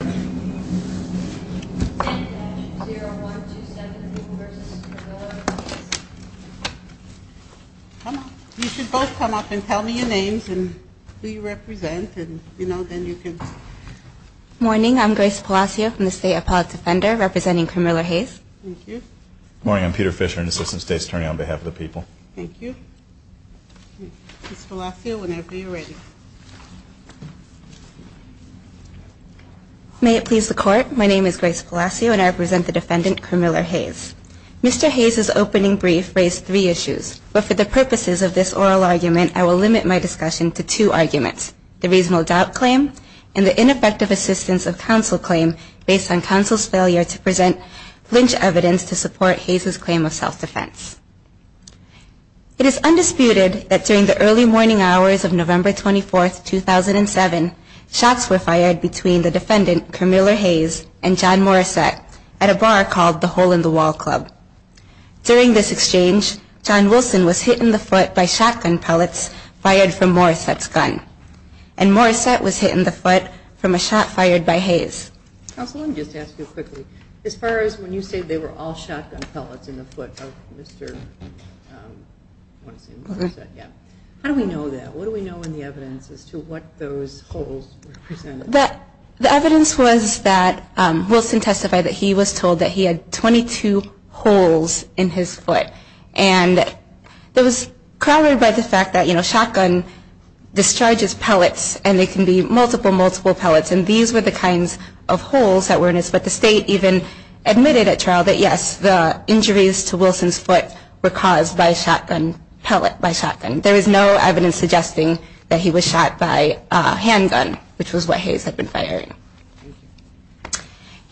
on behalf of the people. Thank you. Ms. Palacio, whenever you are ready. May it please the court, my name is Grace Palacio and I represent the defendant, Carmilla Hayes. Mr. Hayes' opening brief raised three issues, but for the purposes of this oral argument, I will limit my discussion to two arguments, the reasonable doubt claim and the ineffective assistance of counsel claim based on counsel's failure to present flinch evidence to support Hayes' claim of self-defense. It is undisputed that during the early morning hours of November 24, 2007, shots were fired between the defendant, Carmilla Hayes, and John Morissette at a bar called the Hole in the Wall Club. During this exchange, John Wilson was hit in the foot by shotgun pellets fired from Morissette's gun. And Morissette was hit in the foot from a shot fired by Hayes. Counsel, let me just ask you quickly, as far as when you say they were all shotgun pellets in the foot of Mr. Morissette, how do we know that? What do we know in the evidence as to what those holes represented? The evidence was that Wilson testified that he was told that he had 22 holes in his foot. And it was corroborated by the fact that, you know, shotgun discharges pellets and they can be multiple, multiple pellets. And these were the kinds of holes that were in his foot. The state even admitted at trial that, yes, the injuries to Wilson's foot were caused by a shotgun pellet, by shotgun. There is no evidence suggesting that he was shot by a handgun, which was what Hayes had been firing.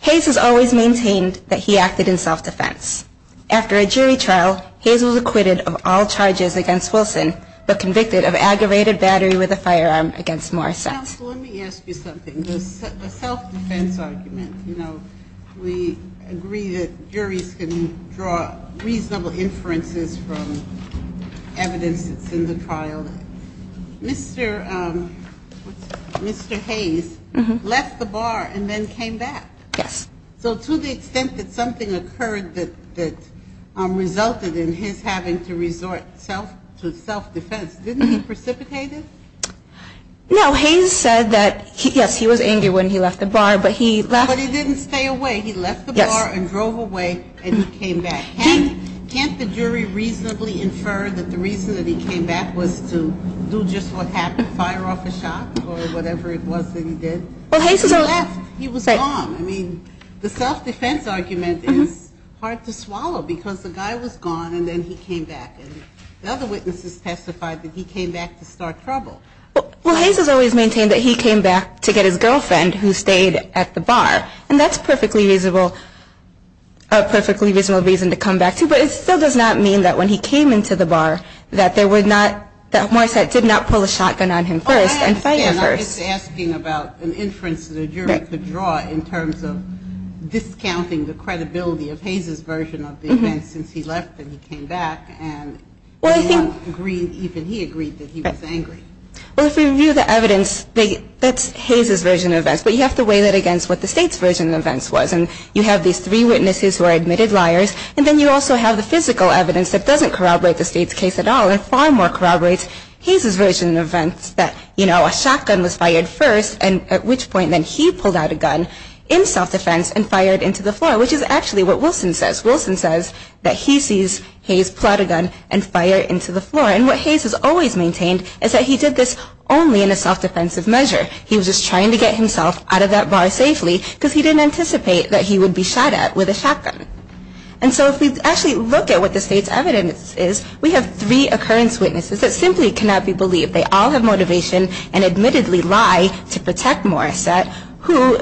Hayes has always maintained that he acted in self-defense. After a jury trial, Hayes was acquitted of all charges against Wilson, but convicted of aggravated battery with a firearm against Morissette. Counsel, let me ask you something. The self-defense argument, you know, we agree that juries can draw reasonable inferences from evidence that's in the trial. Mr. Hayes left the bar and then came back. Yes. So to the extent that something occurred that resulted in his having to resort to self-defense, didn't he precipitate it? No. Hayes said that, yes, he was angry when he left the bar, but he left. But he didn't stay away. He left the bar and drove away and he came back. Can't the jury reasonably infer that the reason that he came back was to do just what happened, fire off a shot or whatever it was that he did? Well, Hayes is a... He left. He was gone. I mean, the self-defense argument is hard to swallow because the guy was gone and then he came back. And the other witnesses testified that he came back to start trouble. Well, Hayes has always maintained that he came back to get his girlfriend who stayed at the bar. And that's perfectly reasonable, a perfectly reasonable reason to come back to. But it still does not mean that when he came into the bar that there were not, that Morissette did not pull a shotgun on him first and fire first. Oh, I understand. I'm just asking about an inference that a jury could draw in terms of discounting the credibility of Hayes' version of the event since he left and he came back. And he agreed that he was angry. Well, if we review the evidence, that's Hayes' version of events. But you have to weigh that against what the state's version of events was. And you have these three witnesses who are admitted liars. And then you also have the physical evidence that doesn't corroborate the state's case at all and far more corroborates Hayes' version of events that, you know, a shotgun was fired first and at which point then he pulled out a gun in self-defense and fired into the floor, which is actually what Wilson says. That he sees Hayes pull out a gun and fire into the floor. And what Hayes has always maintained is that he did this only in a self-defensive measure. He was just trying to get himself out of that bar safely because he didn't anticipate that he would be shot at with a shotgun. And so if we actually look at what the state's evidence is, we have three occurrence witnesses that simply cannot be believed. They all have motivation and admittedly lie to protect Morissette, who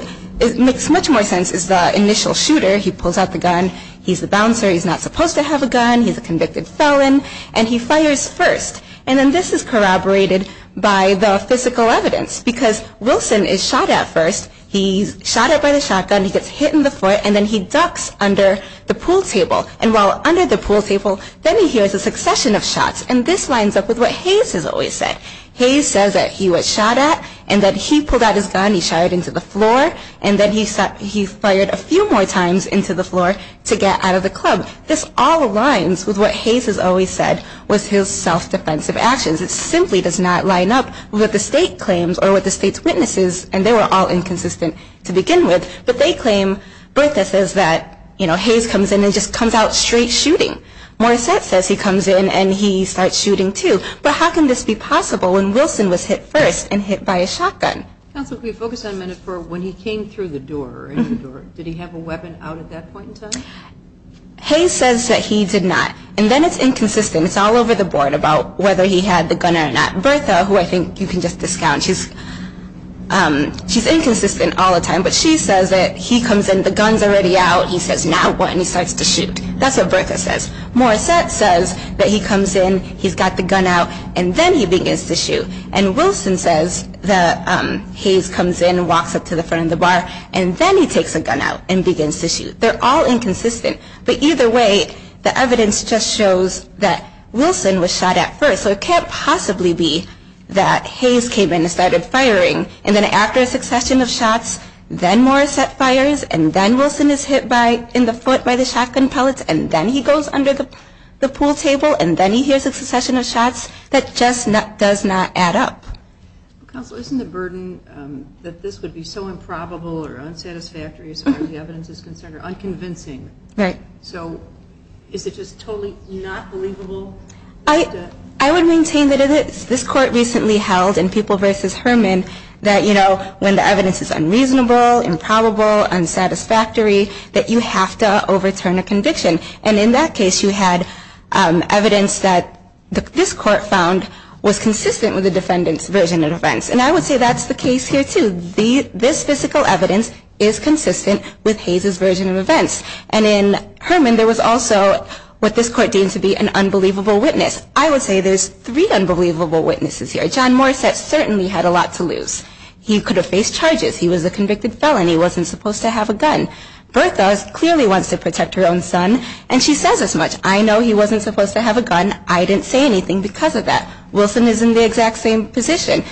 makes much more sense as the initial shooter. He pulls out the gun. He's the bouncer. He's not supposed to have a gun. He's a convicted felon. And he fires first. And then this is corroborated by the physical evidence because Wilson is shot at first. He's shot at by the shotgun. He gets hit in the foot. And then he ducks under the pool table. And while under the pool table, then he hears a succession of shots. And this lines up with what Hayes has always said. Hayes says that he was shot at and that he pulled out his gun. He shot it into the floor. And then he fired a few more times into the floor to get out of the club. This all aligns with what Hayes has always said was his self-defensive actions. It simply does not line up with what the state claims or with the state's witnesses. And they were all inconsistent to begin with. But they claim, Bertha says that, you know, Hayes comes in and just comes out straight shooting. Morissette says he comes in and he starts shooting too. But how can this be possible when Wilson was hit first and hit by a shotgun? Counsel, can we focus on Medford when he came through the door? Did he have a weapon out at that point in time? Hayes says that he did not. And then it's inconsistent. It's all over the board about whether he had the gun or not. Bertha, who I think you can just discount, she's inconsistent all the time. But she says that he comes in, the gun's already out. He says, now what? And he starts to shoot. That's what Bertha says. Morissette says that he comes in, he's got the gun out, and then he begins to shoot. And Wilson says that Hayes comes in and walks up to the front of the bar. And then he takes the gun out and begins to shoot. They're all inconsistent. But either way, the evidence just shows that Wilson was shot at first. So it can't possibly be that Hayes came in and started firing. And then after a succession of shots, then Morissette fires. And then Wilson is hit in the foot by the shotgun pellets. And then he goes under the pool table. And then he hears a succession of shots that just does not add up. Counsel, isn't the burden that this would be so improbable or unsatisfactory as far as the evidence is concerned or unconvincing? Right. So is it just totally not believable? I would maintain that this court recently held in People v. Herman that, you know, when the evidence is unreasonable, improbable, unsatisfactory, that you have to overturn a conviction. And in that case, you had evidence that this court found was consistent with the defendant's version of events. And I would say that's the case here, too. This physical evidence is consistent with Hayes' version of events. And in Herman, there was also what this court deemed to be an unbelievable witness. I would say there's three unbelievable witnesses here. John Morissette certainly had a lot to lose. He could have faced charges. He was a convicted felon. He wasn't supposed to have a gun. Bertha clearly wants to protect her own son, and she says as much. I know he wasn't supposed to have a gun. I didn't say anything because of that. Wilson is in the exact same position.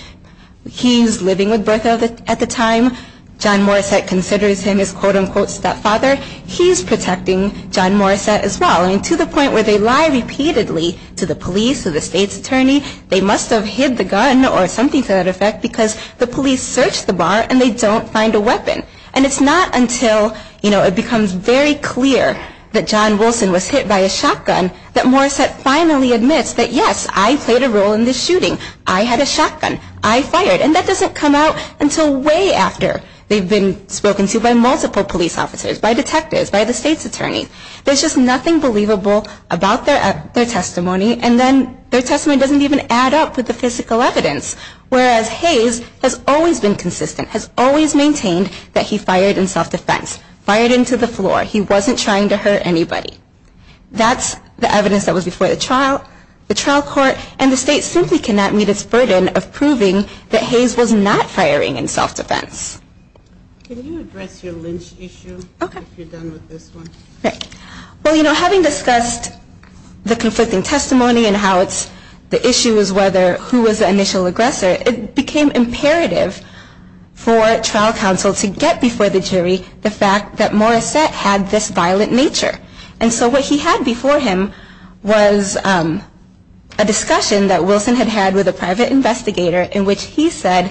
He's living with Bertha at the time. John Morissette considers him his, quote, unquote, stepfather. He's protecting John Morissette as well. I mean, to the point where they lie repeatedly to the police or the state's attorney, they must have hid the gun or something to that effect because the police search the bar and they don't find a weapon. And it's not until, you know, it becomes very clear that John Wilson was hit by a shotgun that Morissette finally admits that, yes, I played a role in this shooting. I had a shotgun. I fired. And that doesn't come out until way after they've been spoken to by multiple police officers, by detectives, by the state's attorney. There's just nothing believable about their testimony, and then their testimony doesn't even add up with the physical evidence. Whereas Hayes has always been consistent, has always maintained that he fired in self-defense, fired into the floor. He wasn't trying to hurt anybody. That's the evidence that was before the trial, the trial court, and the state simply cannot meet its burden of proving that Hayes was not firing in self-defense. Can you address your lynch issue if you're done with this one? Well, you know, having discussed the conflicting testimony and how it's the issue is whether who was the initial aggressor, it became imperative for trial counsel to get before the jury the fact that Morissette had this violent nature. And so what he had before him was a discussion that Wilson had had with a private investigator in which he said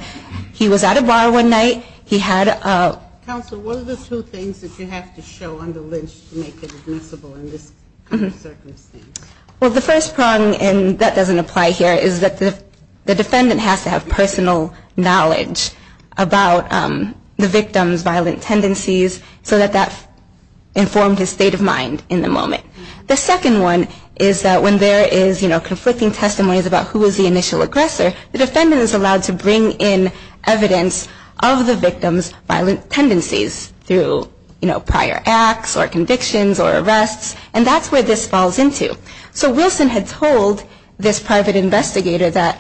he was at a bar one night. He had a ---- Counsel, what are the two things that you have to show on the lynch to make it admissible in this circumstance? Well, the first prong, and that doesn't apply here, is that the defendant has to have personal knowledge about the victim's violent tendencies so that that informs his state of mind in the moment. The second one is that when there is, you know, conflicting testimonies about who was the initial aggressor, the defendant is allowed to bring in evidence of the victim's violent tendencies through, you know, prior acts or convictions or arrests. And that's where this falls into. So Wilson had told this private investigator that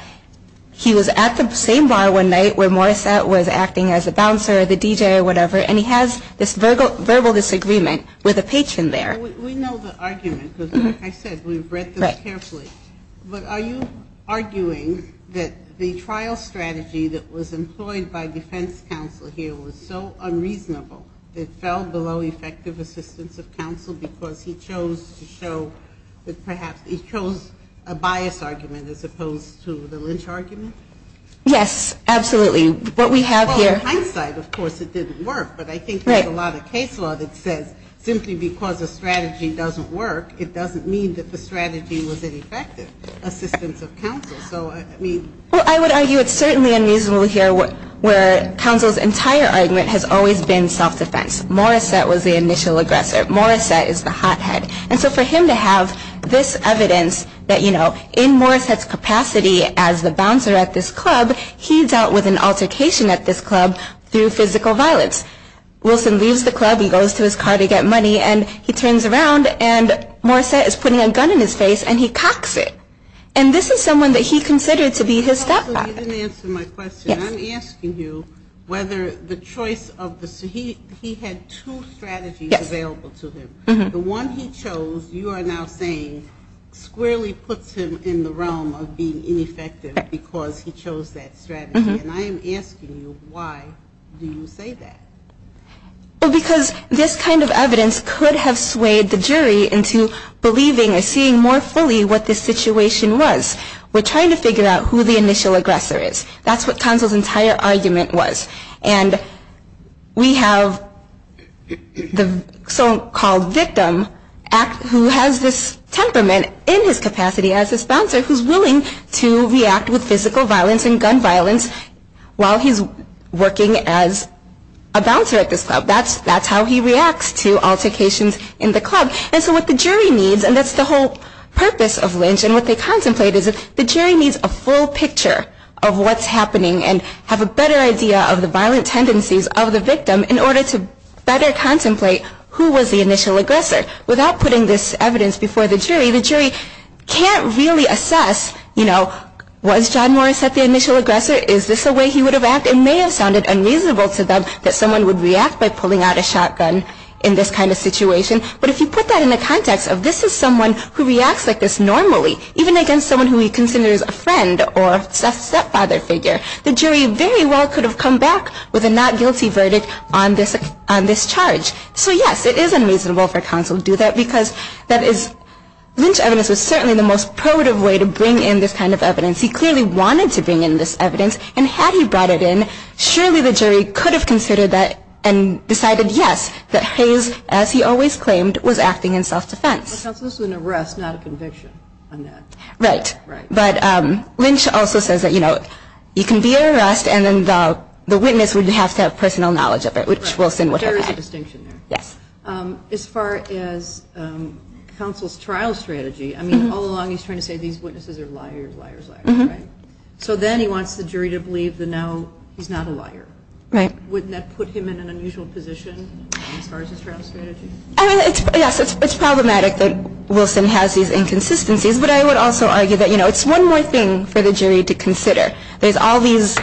he was at the same bar one night where Morissette was acting as a bouncer or the DJ or whatever, and he has this verbal disagreement with a patron there. We know the argument because, like I said, we've read this carefully. Right. But are you arguing that the trial strategy that was employed by defense counsel here was so unreasonable that it fell below effective assistance of counsel because he chose to show that perhaps he chose a bias argument as opposed to the lynch argument? Yes, absolutely. What we have here ---- Well, in hindsight, of course, it didn't work. Right. But I think there's a lot of case law that says simply because a strategy doesn't work, it doesn't mean that the strategy was ineffective assistance of counsel. So, I mean ---- Well, I would argue it's certainly unreasonable here where counsel's entire argument has always been self-defense. Morissette was the initial aggressor. Morissette is the hothead. And so for him to have this evidence that, you know, in Morissette's capacity as the bouncer at this club, he's out with an altercation at this club through physical violence. Wilson leaves the club, he goes to his car to get money, and he turns around and Morissette is putting a gun in his face and he cocks it. And this is someone that he considered to be his stepfather. Counsel, you didn't answer my question. Yes. I'm asking you whether the choice of the ---- he had two strategies available to him. Yes. The one he chose you are now saying squarely puts him in the realm of being ineffective because he chose that strategy. And I am asking you why do you say that? Well, because this kind of evidence could have swayed the jury into believing or seeing more fully what this situation was. We're trying to figure out who the initial aggressor is. That's what counsel's entire argument was. And we have the so-called victim who has this temperament in his capacity as this bouncer who's willing to react with physical violence and gun violence while he's working as a bouncer at this club. That's how he reacts to altercations in the club. And so what the jury needs, and that's the whole purpose of lynch, and what they contemplate is the jury needs a full picture of what's happening and have a better idea of the violent tendencies of the victim in order to better contemplate who was the initial aggressor. Without putting this evidence before the jury, the jury can't really assess, you know, was John Morris at the initial aggressor? Is this a way he would have acted? It may have sounded unreasonable to them that someone would react by pulling out a shotgun in this kind of situation. But if you put that in the context of this is someone who reacts like this normally, even against someone who he considers a friend or a stepfather figure, the jury very well could have come back with a not guilty verdict on this charge. So, yes, it is unreasonable for counsel to do that because that is lynch evidence was certainly the most probative way to bring in this kind of evidence. He clearly wanted to bring in this evidence, and had he brought it in, surely the jury could have considered that and decided, yes, that Hayes, as he always claimed, was acting in self-defense. Counsel, this was an arrest, not a conviction on that. Right. Right. But lynch also says that, you know, you can be at arrest, and then the witness would have to have personal knowledge of it, which Wilson would have had. There is a distinction there. Yes. As far as counsel's trial strategy, I mean, all along he's trying to say these witnesses are liars, liars, liars, right? So then he wants the jury to believe that now he's not a liar. Right. Wouldn't that put him in an unusual position as far as his trial strategy? I mean, yes, it's problematic that Wilson has these inconsistencies, but I would also argue that, you know, it's one more thing for the jury to consider. There's all these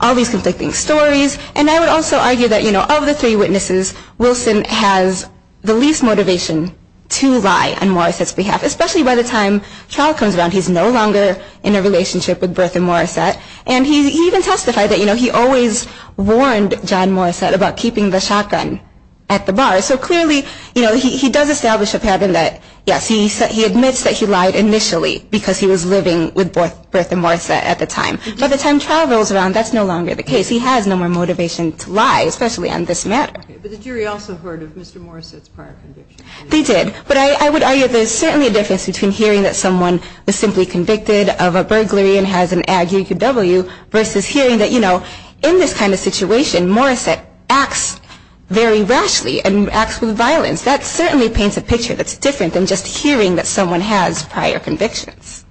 conflicting stories, and I would also argue that, you know, of the three witnesses, Wilson has the least motivation to lie on Morris' behalf, especially by the time trial comes around. He's no longer in a relationship with Bertha Morrissette, and he even testified that, you know, he always warned John Morrissette about keeping the shotgun at the bar. So clearly, you know, he does establish a pattern that, yes, he admits that he lied initially because he was living with Bertha Morrissette at the time. By the time trial rolls around, that's no longer the case. He has no more motivation to lie, especially on this matter. Okay. But the jury also heard of Mr. Morrissette's prior convictions. They did. But I would argue there's certainly a difference between hearing that someone was simply convicted of a burglary and has an ag-UQW versus hearing that, you know, in this kind of situation, Morrissette acts very rashly and acts with violence. That certainly paints a picture that's different than just hearing that someone has prior convictions.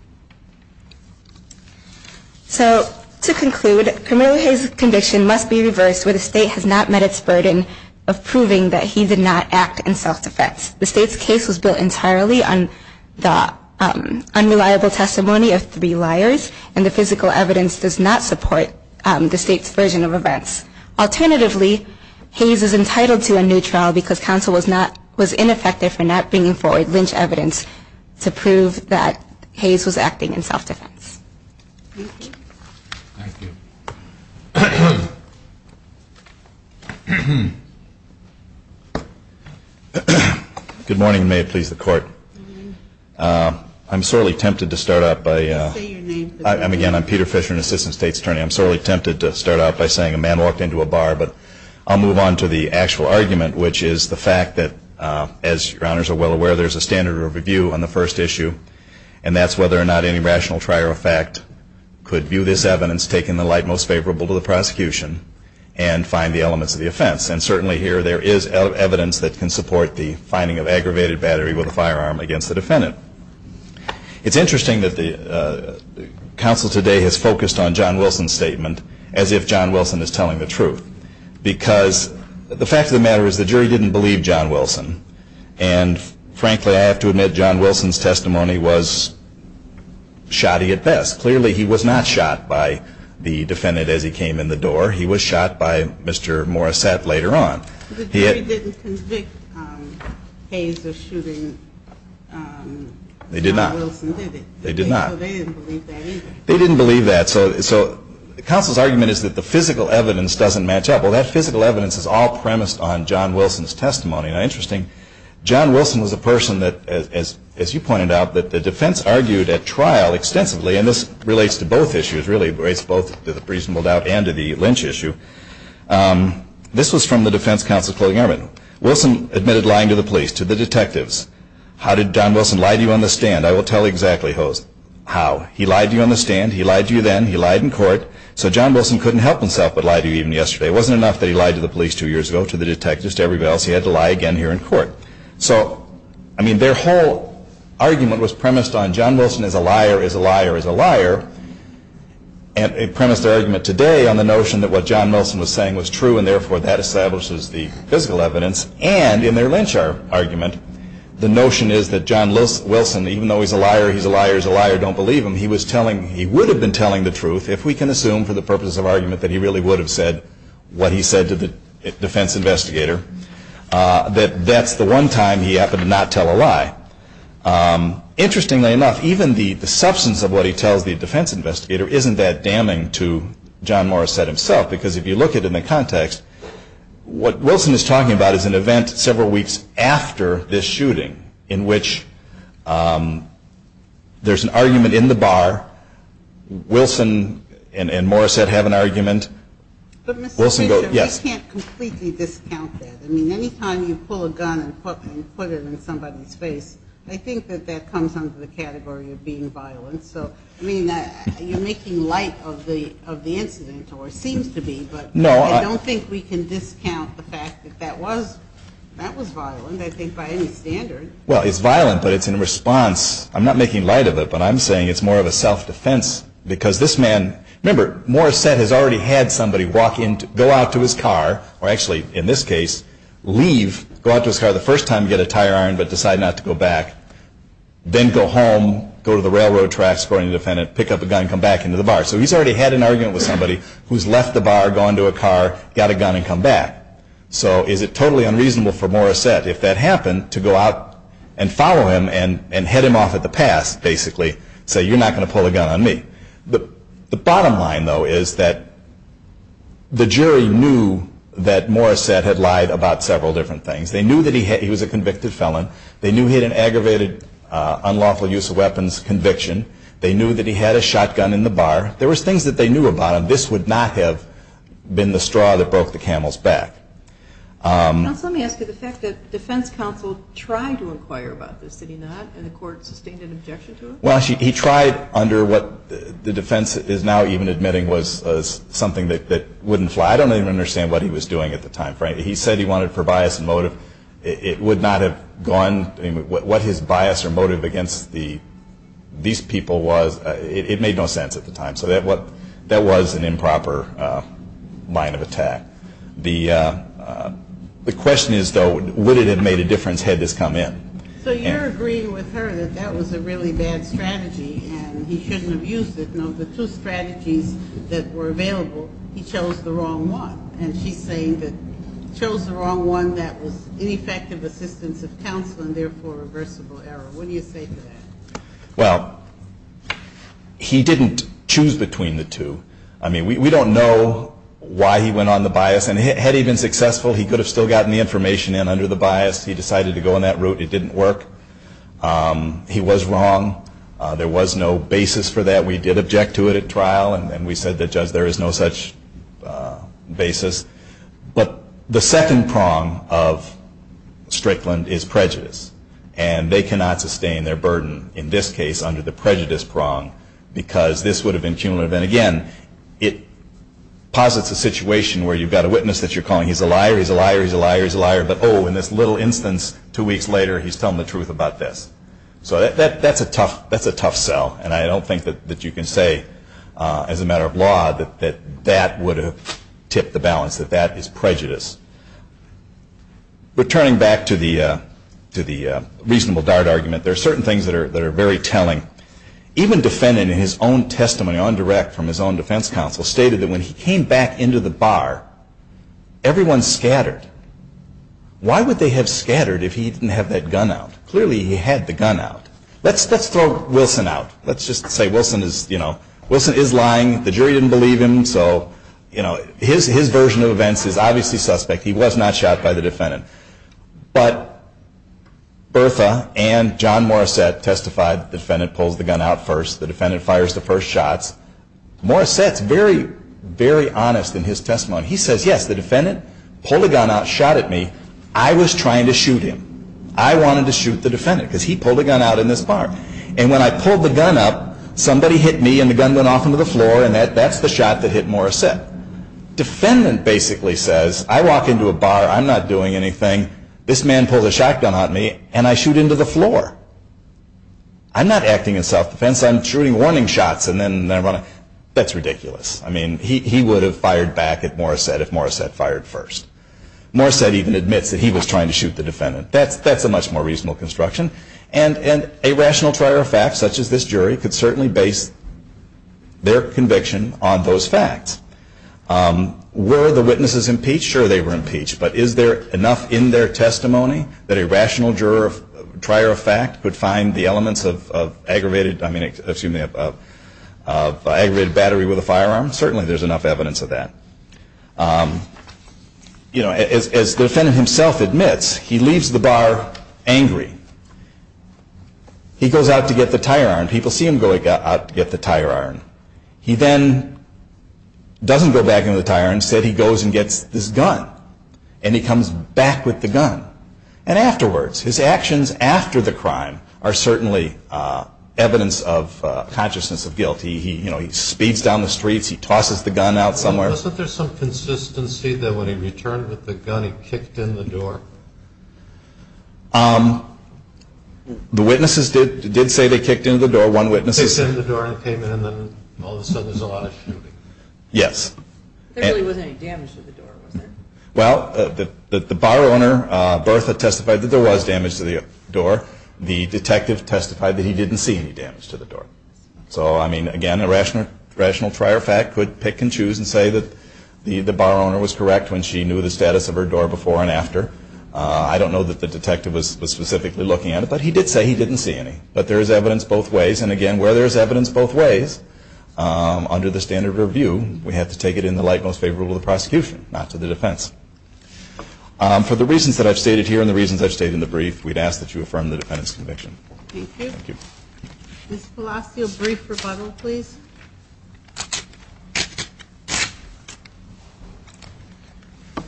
So to conclude, primarily his conviction must be reversed where the state has not met its burden of proving that he did not act in self-defense. The state's case was built entirely on the unreliable testimony of three liars, and the physical evidence does not support the state's version of events. Alternatively, Hayes is entitled to a new trial because counsel was ineffective for not bringing forward lynch evidence to prove that Hayes was acting in self-defense. Thank you. Thank you. Good morning, and may it please the Court. I'm sorely tempted to start out by saying a man walked into a bar. But I'll move on to the actual argument, which is the fact that, as Your Honors are well aware, there's a standard of review on the first issue. And that's whether or not any rational trier of fact could view this evidence, taking the light most favorable to the prosecution, and find the elements of the offense. And certainly here there is evidence that can support the finding of aggravated battery with a firearm against the defendant. It's interesting that the counsel today has focused on John Wilson's statement as if John Wilson is telling the truth because the fact of the matter is the jury didn't believe John Wilson. And frankly, I have to admit, John Wilson's testimony was shoddy at best. Clearly he was not shot by the defendant as he came in the door. He was shot by Mr. Morissette later on. The jury didn't convict Hayes of shooting John Wilson, did they? They did not. So they didn't believe that either. They didn't believe that. So the counsel's argument is that the physical evidence doesn't match up. Well, that physical evidence is all premised on John Wilson's testimony. Now, interesting, John Wilson was a person that, as you pointed out, that the defense argued at trial extensively. And this relates to both issues, really. It relates both to the reasonable doubt and to the lynch issue. This was from the defense counsel's clothing argument. Wilson admitted lying to the police, to the detectives. How did John Wilson lie to you on the stand? I will tell you exactly how. He lied to you on the stand. He lied to you then. He lied in court. So John Wilson couldn't help himself but lie to you even yesterday. It wasn't enough that he lied to the police two years ago, to the detectives, to everybody else. He had to lie again here in court. So, I mean, their whole argument was premised on John Wilson is a liar, is a liar, is a liar, and premised their argument today on the notion that what John Wilson was saying was true and therefore that establishes the physical evidence. And in their lynch argument, the notion is that John Wilson, even though he's a liar, he's a liar, he's a liar, don't believe him, he was telling, he would have been telling the truth, if we can assume for the purpose of argument that he really would have said what he said to the defense investigator, that that's the one time he happened to not tell a lie. Interestingly enough, even the substance of what he tells the defense investigator isn't that damning to John Morrissette himself, because if you look at it in the context, what Wilson is talking about is an event several weeks after this shooting, in which there's an argument in the bar. Wilson and Morrissette have an argument. But Mr. Fisher, we can't completely discount that. I mean, any time you pull a gun and put it in somebody's face, I think that that comes under the category of being violent. So, I mean, you're making light of the incident, or it seems to be, but I don't think we can discount the fact that that was violent, I think, by any standard. Well, it's violent, but it's in response. I'm not making light of it, but I'm saying it's more of a self-defense, because this man, remember, Morrissette has already had somebody go out to his car, or actually, in this case, leave, go out to his car the first time to get a tire iron, but decide not to go back, then go home, go to the railroad tracks, according to the defendant, pick up a gun and come back into the bar. So he's already had an argument with somebody who's left the bar, gone to a car, got a gun and come back. So is it totally unreasonable for Morrissette, if that happened, to go out and follow him and head him off at the pass, basically, say, you're not going to pull a gun on me? The bottom line, though, is that the jury knew that Morrissette had lied about several different things. They knew that he was a convicted felon. They knew he had an aggravated unlawful use of weapons conviction. They knew that he had a shotgun in the bar. There was things that they knew about him. This would not have been the straw that broke the camel's back. Counsel, let me ask you, the fact that defense counsel tried to inquire about this, did he not, and the court sustained an objection to it? Well, he tried under what the defense is now even admitting was something that wouldn't fly. I don't even understand what he was doing at the time frame. He said he wanted for bias and motive. It would not have gone, what his bias or motive against these people was, it made no sense at the time. So that was an improper line of attack. The question is, though, would it have made a difference had this come in? So you're agreeing with her that that was a really bad strategy and he shouldn't have used it. No, the two strategies that were available, he chose the wrong one. And she's saying that he chose the wrong one that was ineffective assistance of counsel and therefore reversible error. What do you say to that? Well, he didn't choose between the two. I mean, we don't know why he went on the bias. And had he been successful, he could have still gotten the information in under the bias. He decided to go on that route. It didn't work. He was wrong. There was no basis for that. We did object to it at trial. And we said that, Judge, there is no such basis. But the second prong of Strickland is prejudice. And they cannot sustain their burden in this case under the prejudice prong because this would have been cumulative. And, again, it posits a situation where you've got a witness that you're calling he's a liar, he's a liar, he's a liar, he's a liar. But, oh, in this little instance two weeks later, he's telling the truth about this. So that's a tough sell. And I don't think that you can say as a matter of law that that would have tipped the balance, that that is prejudice. Returning back to the reasonable dart argument, there are certain things that are very telling. Even defendant in his own testimony, on direct from his own defense counsel, stated that when he came back into the bar, everyone scattered. Why would they have scattered if he didn't have that gun out? Clearly he had the gun out. Let's throw Wilson out. Let's just say Wilson is, you know, Wilson is lying. The jury didn't believe him. So, you know, his version of events is obviously suspect. He was not shot by the defendant. But Bertha and John Morissette testified the defendant pulls the gun out first. The defendant fires the first shots. Morissette's very, very honest in his testimony. He says, yes, the defendant pulled a gun out, shot at me. I was trying to shoot him. I wanted to shoot the defendant because he pulled a gun out in this bar. And when I pulled the gun up, somebody hit me and the gun went off into the floor and that's the shot that hit Morissette. Defendant basically says, I walk into a bar. I'm not doing anything. This man pulled a shotgun on me and I shoot into the floor. I'm not acting in self-defense. I'm shooting warning shots and then I run. That's ridiculous. I mean, he would have fired back at Morissette if Morissette fired first. Morissette even admits that he was trying to shoot the defendant. That's a much more reasonable construction. And a rational trier of fact, such as this jury, could certainly base their conviction on those facts. Were the witnesses impeached? Sure, they were impeached. But is there enough in their testimony that a rational trier of fact could find the elements of aggravated battery with a firearm? Certainly there's enough evidence of that. As the defendant himself admits, he leaves the bar angry. He goes out to get the tire iron. People see him go out to get the tire iron. He then doesn't go back into the tire iron. Instead, he goes and gets this gun and he comes back with the gun. And afterwards, his actions after the crime are certainly evidence of consciousness of guilt. He speeds down the streets. He tosses the gun out somewhere. Wasn't there some consistency that when he returned with the gun, he kicked in the door? The witnesses did say they kicked in the door. One witness said they kicked in the door and came in and then all of a sudden there's a lot of shooting. Yes. There really wasn't any damage to the door, was there? Well, the bar owner, Bertha, testified that there was damage to the door. So, I mean, again, a rational trier of fact could pick and choose and say that the bar owner was correct when she knew the status of her door before and after. I don't know that the detective was specifically looking at it, but he did say he didn't see any. But there is evidence both ways. And, again, where there is evidence both ways, under the standard of review, we have to take it in the light most favorable to the prosecution, not to the defense. For the reasons that I've stated here and the reasons I've stated in the brief, we'd ask that you affirm the defendant's conviction. Thank you. Ms. Palacio, brief rebuttal, please.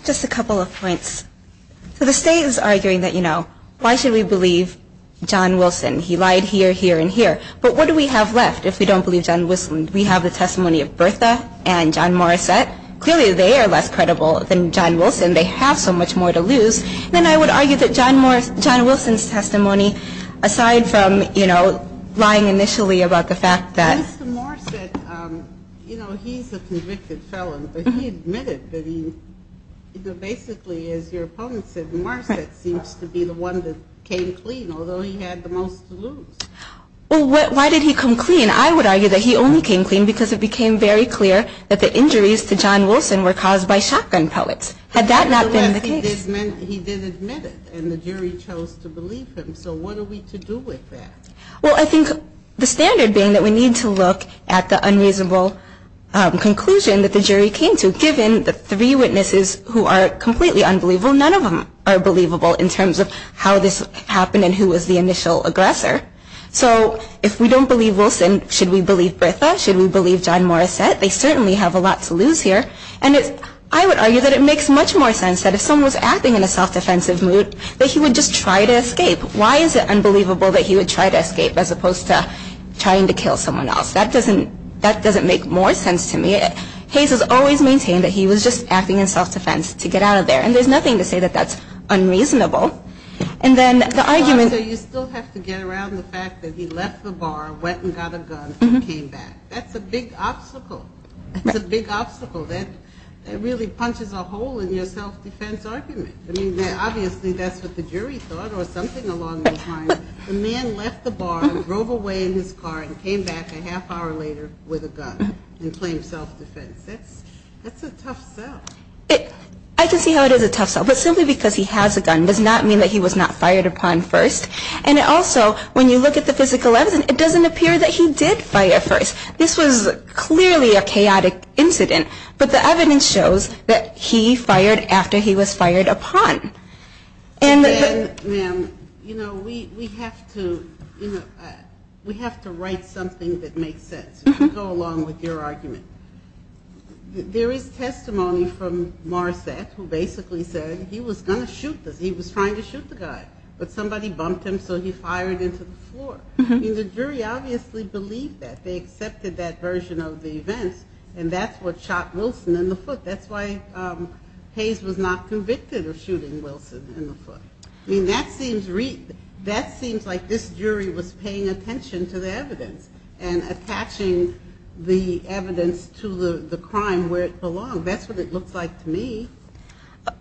Just a couple of points. So the state is arguing that, you know, why should we believe John Wilson? He lied here, here, and here. But what do we have left if we don't believe John Wilson? We have the testimony of Bertha and John Morissette. Clearly they are less credible than John Wilson. They have so much more to lose. Then I would argue that John Wilson's testimony, aside from, you know, lying initially about the fact that. Mr. Morissette, you know, he's a convicted felon. But he admitted that he basically, as your opponent said, Morissette seems to be the one that came clean, although he had the most to lose. Well, why did he come clean? I would argue that he only came clean because it became very clear that the injuries to John Wilson were caused by shotgun pellets. Had that not been the case. Nevertheless, he did admit it, and the jury chose to believe him. So what are we to do with that? Well, I think the standard being that we need to look at the unreasonable conclusion that the jury came to, given the three witnesses who are completely unbelievable. None of them are believable in terms of how this happened and who was the initial aggressor. So if we don't believe Wilson, should we believe Bertha? Should we believe John Morissette? They certainly have a lot to lose here. And I would argue that it makes much more sense that if someone was acting in a self-defensive mood, that he would just try to escape. Why is it unbelievable that he would try to escape as opposed to trying to kill someone else? That doesn't make more sense to me. Hayes has always maintained that he was just acting in self-defense to get out of there. And there's nothing to say that that's unreasonable. And then the argument. You still have to get around the fact that he left the bar, went and got a gun, and came back. That's a big obstacle. That really punches a hole in your self-defense argument. I mean, obviously that's what the jury thought or something along those lines. The man left the bar and drove away in his car and came back a half hour later with a gun and claimed self-defense. That's a tough sell. I can see how it is a tough sell. But simply because he has a gun does not mean that he was not fired upon first. And also, when you look at the physical evidence, it doesn't appear that he did fire first. This was clearly a chaotic incident. But the evidence shows that he fired after he was fired upon. And then, ma'am, you know, we have to, you know, we have to write something that makes sense. Go along with your argument. There is testimony from Marsat who basically said he was going to shoot this. He was trying to shoot the guy. But somebody bumped him, so he fired into the floor. I mean, the jury obviously believed that. They accepted that version of the events, and that's what shot Wilson in the foot. That's why Hayes was not convicted of shooting Wilson in the foot. I mean, that seems like this jury was paying attention to the evidence and attaching the evidence to the crime where it belonged. That's what it looks like to me.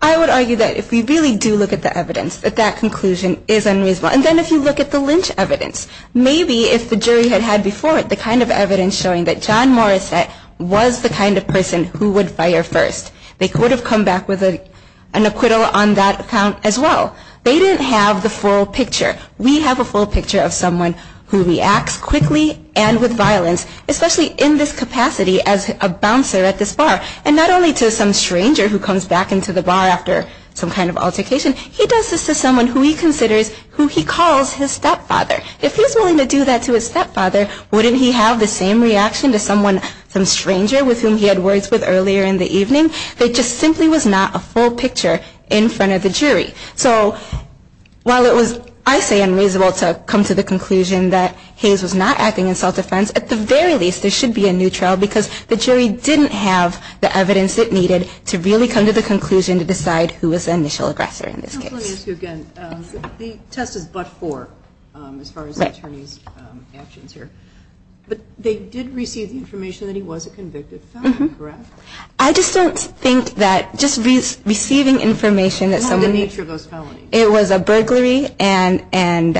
I would argue that if we really do look at the evidence, that that conclusion is unreasonable. And then if you look at the lynch evidence, maybe if the jury had had before it the kind of evidence showing that John Morisette was the kind of person who would fire first, they could have come back with an acquittal on that account as well. They didn't have the full picture. We have a full picture of someone who reacts quickly and with violence, especially in this capacity as a bouncer at this bar. And not only to some stranger who comes back into the bar after some kind of altercation, he does this to someone who he considers who he calls his stepfather. If he's willing to do that to his stepfather, wouldn't he have the same reaction to some stranger with whom he had words with earlier in the evening? It just simply was not a full picture in front of the jury. So while it was, I say, unreasonable to come to the conclusion that Hayes was not acting in self-defense, at the very least there should be a neutral, because the jury didn't have the evidence it needed to really come to the conclusion to decide who was the initial aggressor in this case. Let me ask you again. The test is but for, as far as the attorney's actions here. But they did receive the information that he was a convicted felon, correct? I just don't think that just receiving information that someone... What was the nature of those felonies? It was a burglary and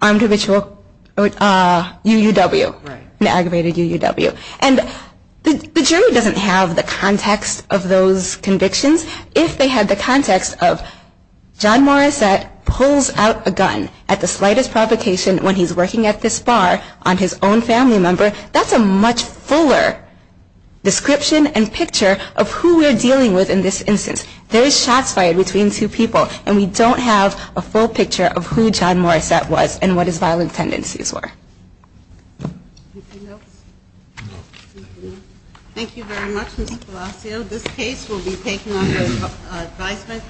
armed habitual UUW, an aggravated UUW. And the jury doesn't have the context of those convictions. If they had the context of John Morissette pulls out a gun at the slightest provocation when he's working at this bar on his own family member, that's a much fuller description and picture of who we're dealing with in this instance. There is shots fired between two people, and we don't have a full picture of who John Morissette was and what his violent tendencies were. Anything else? No. Thank you very much, Mr. Palacio. This case will be taken under advisement.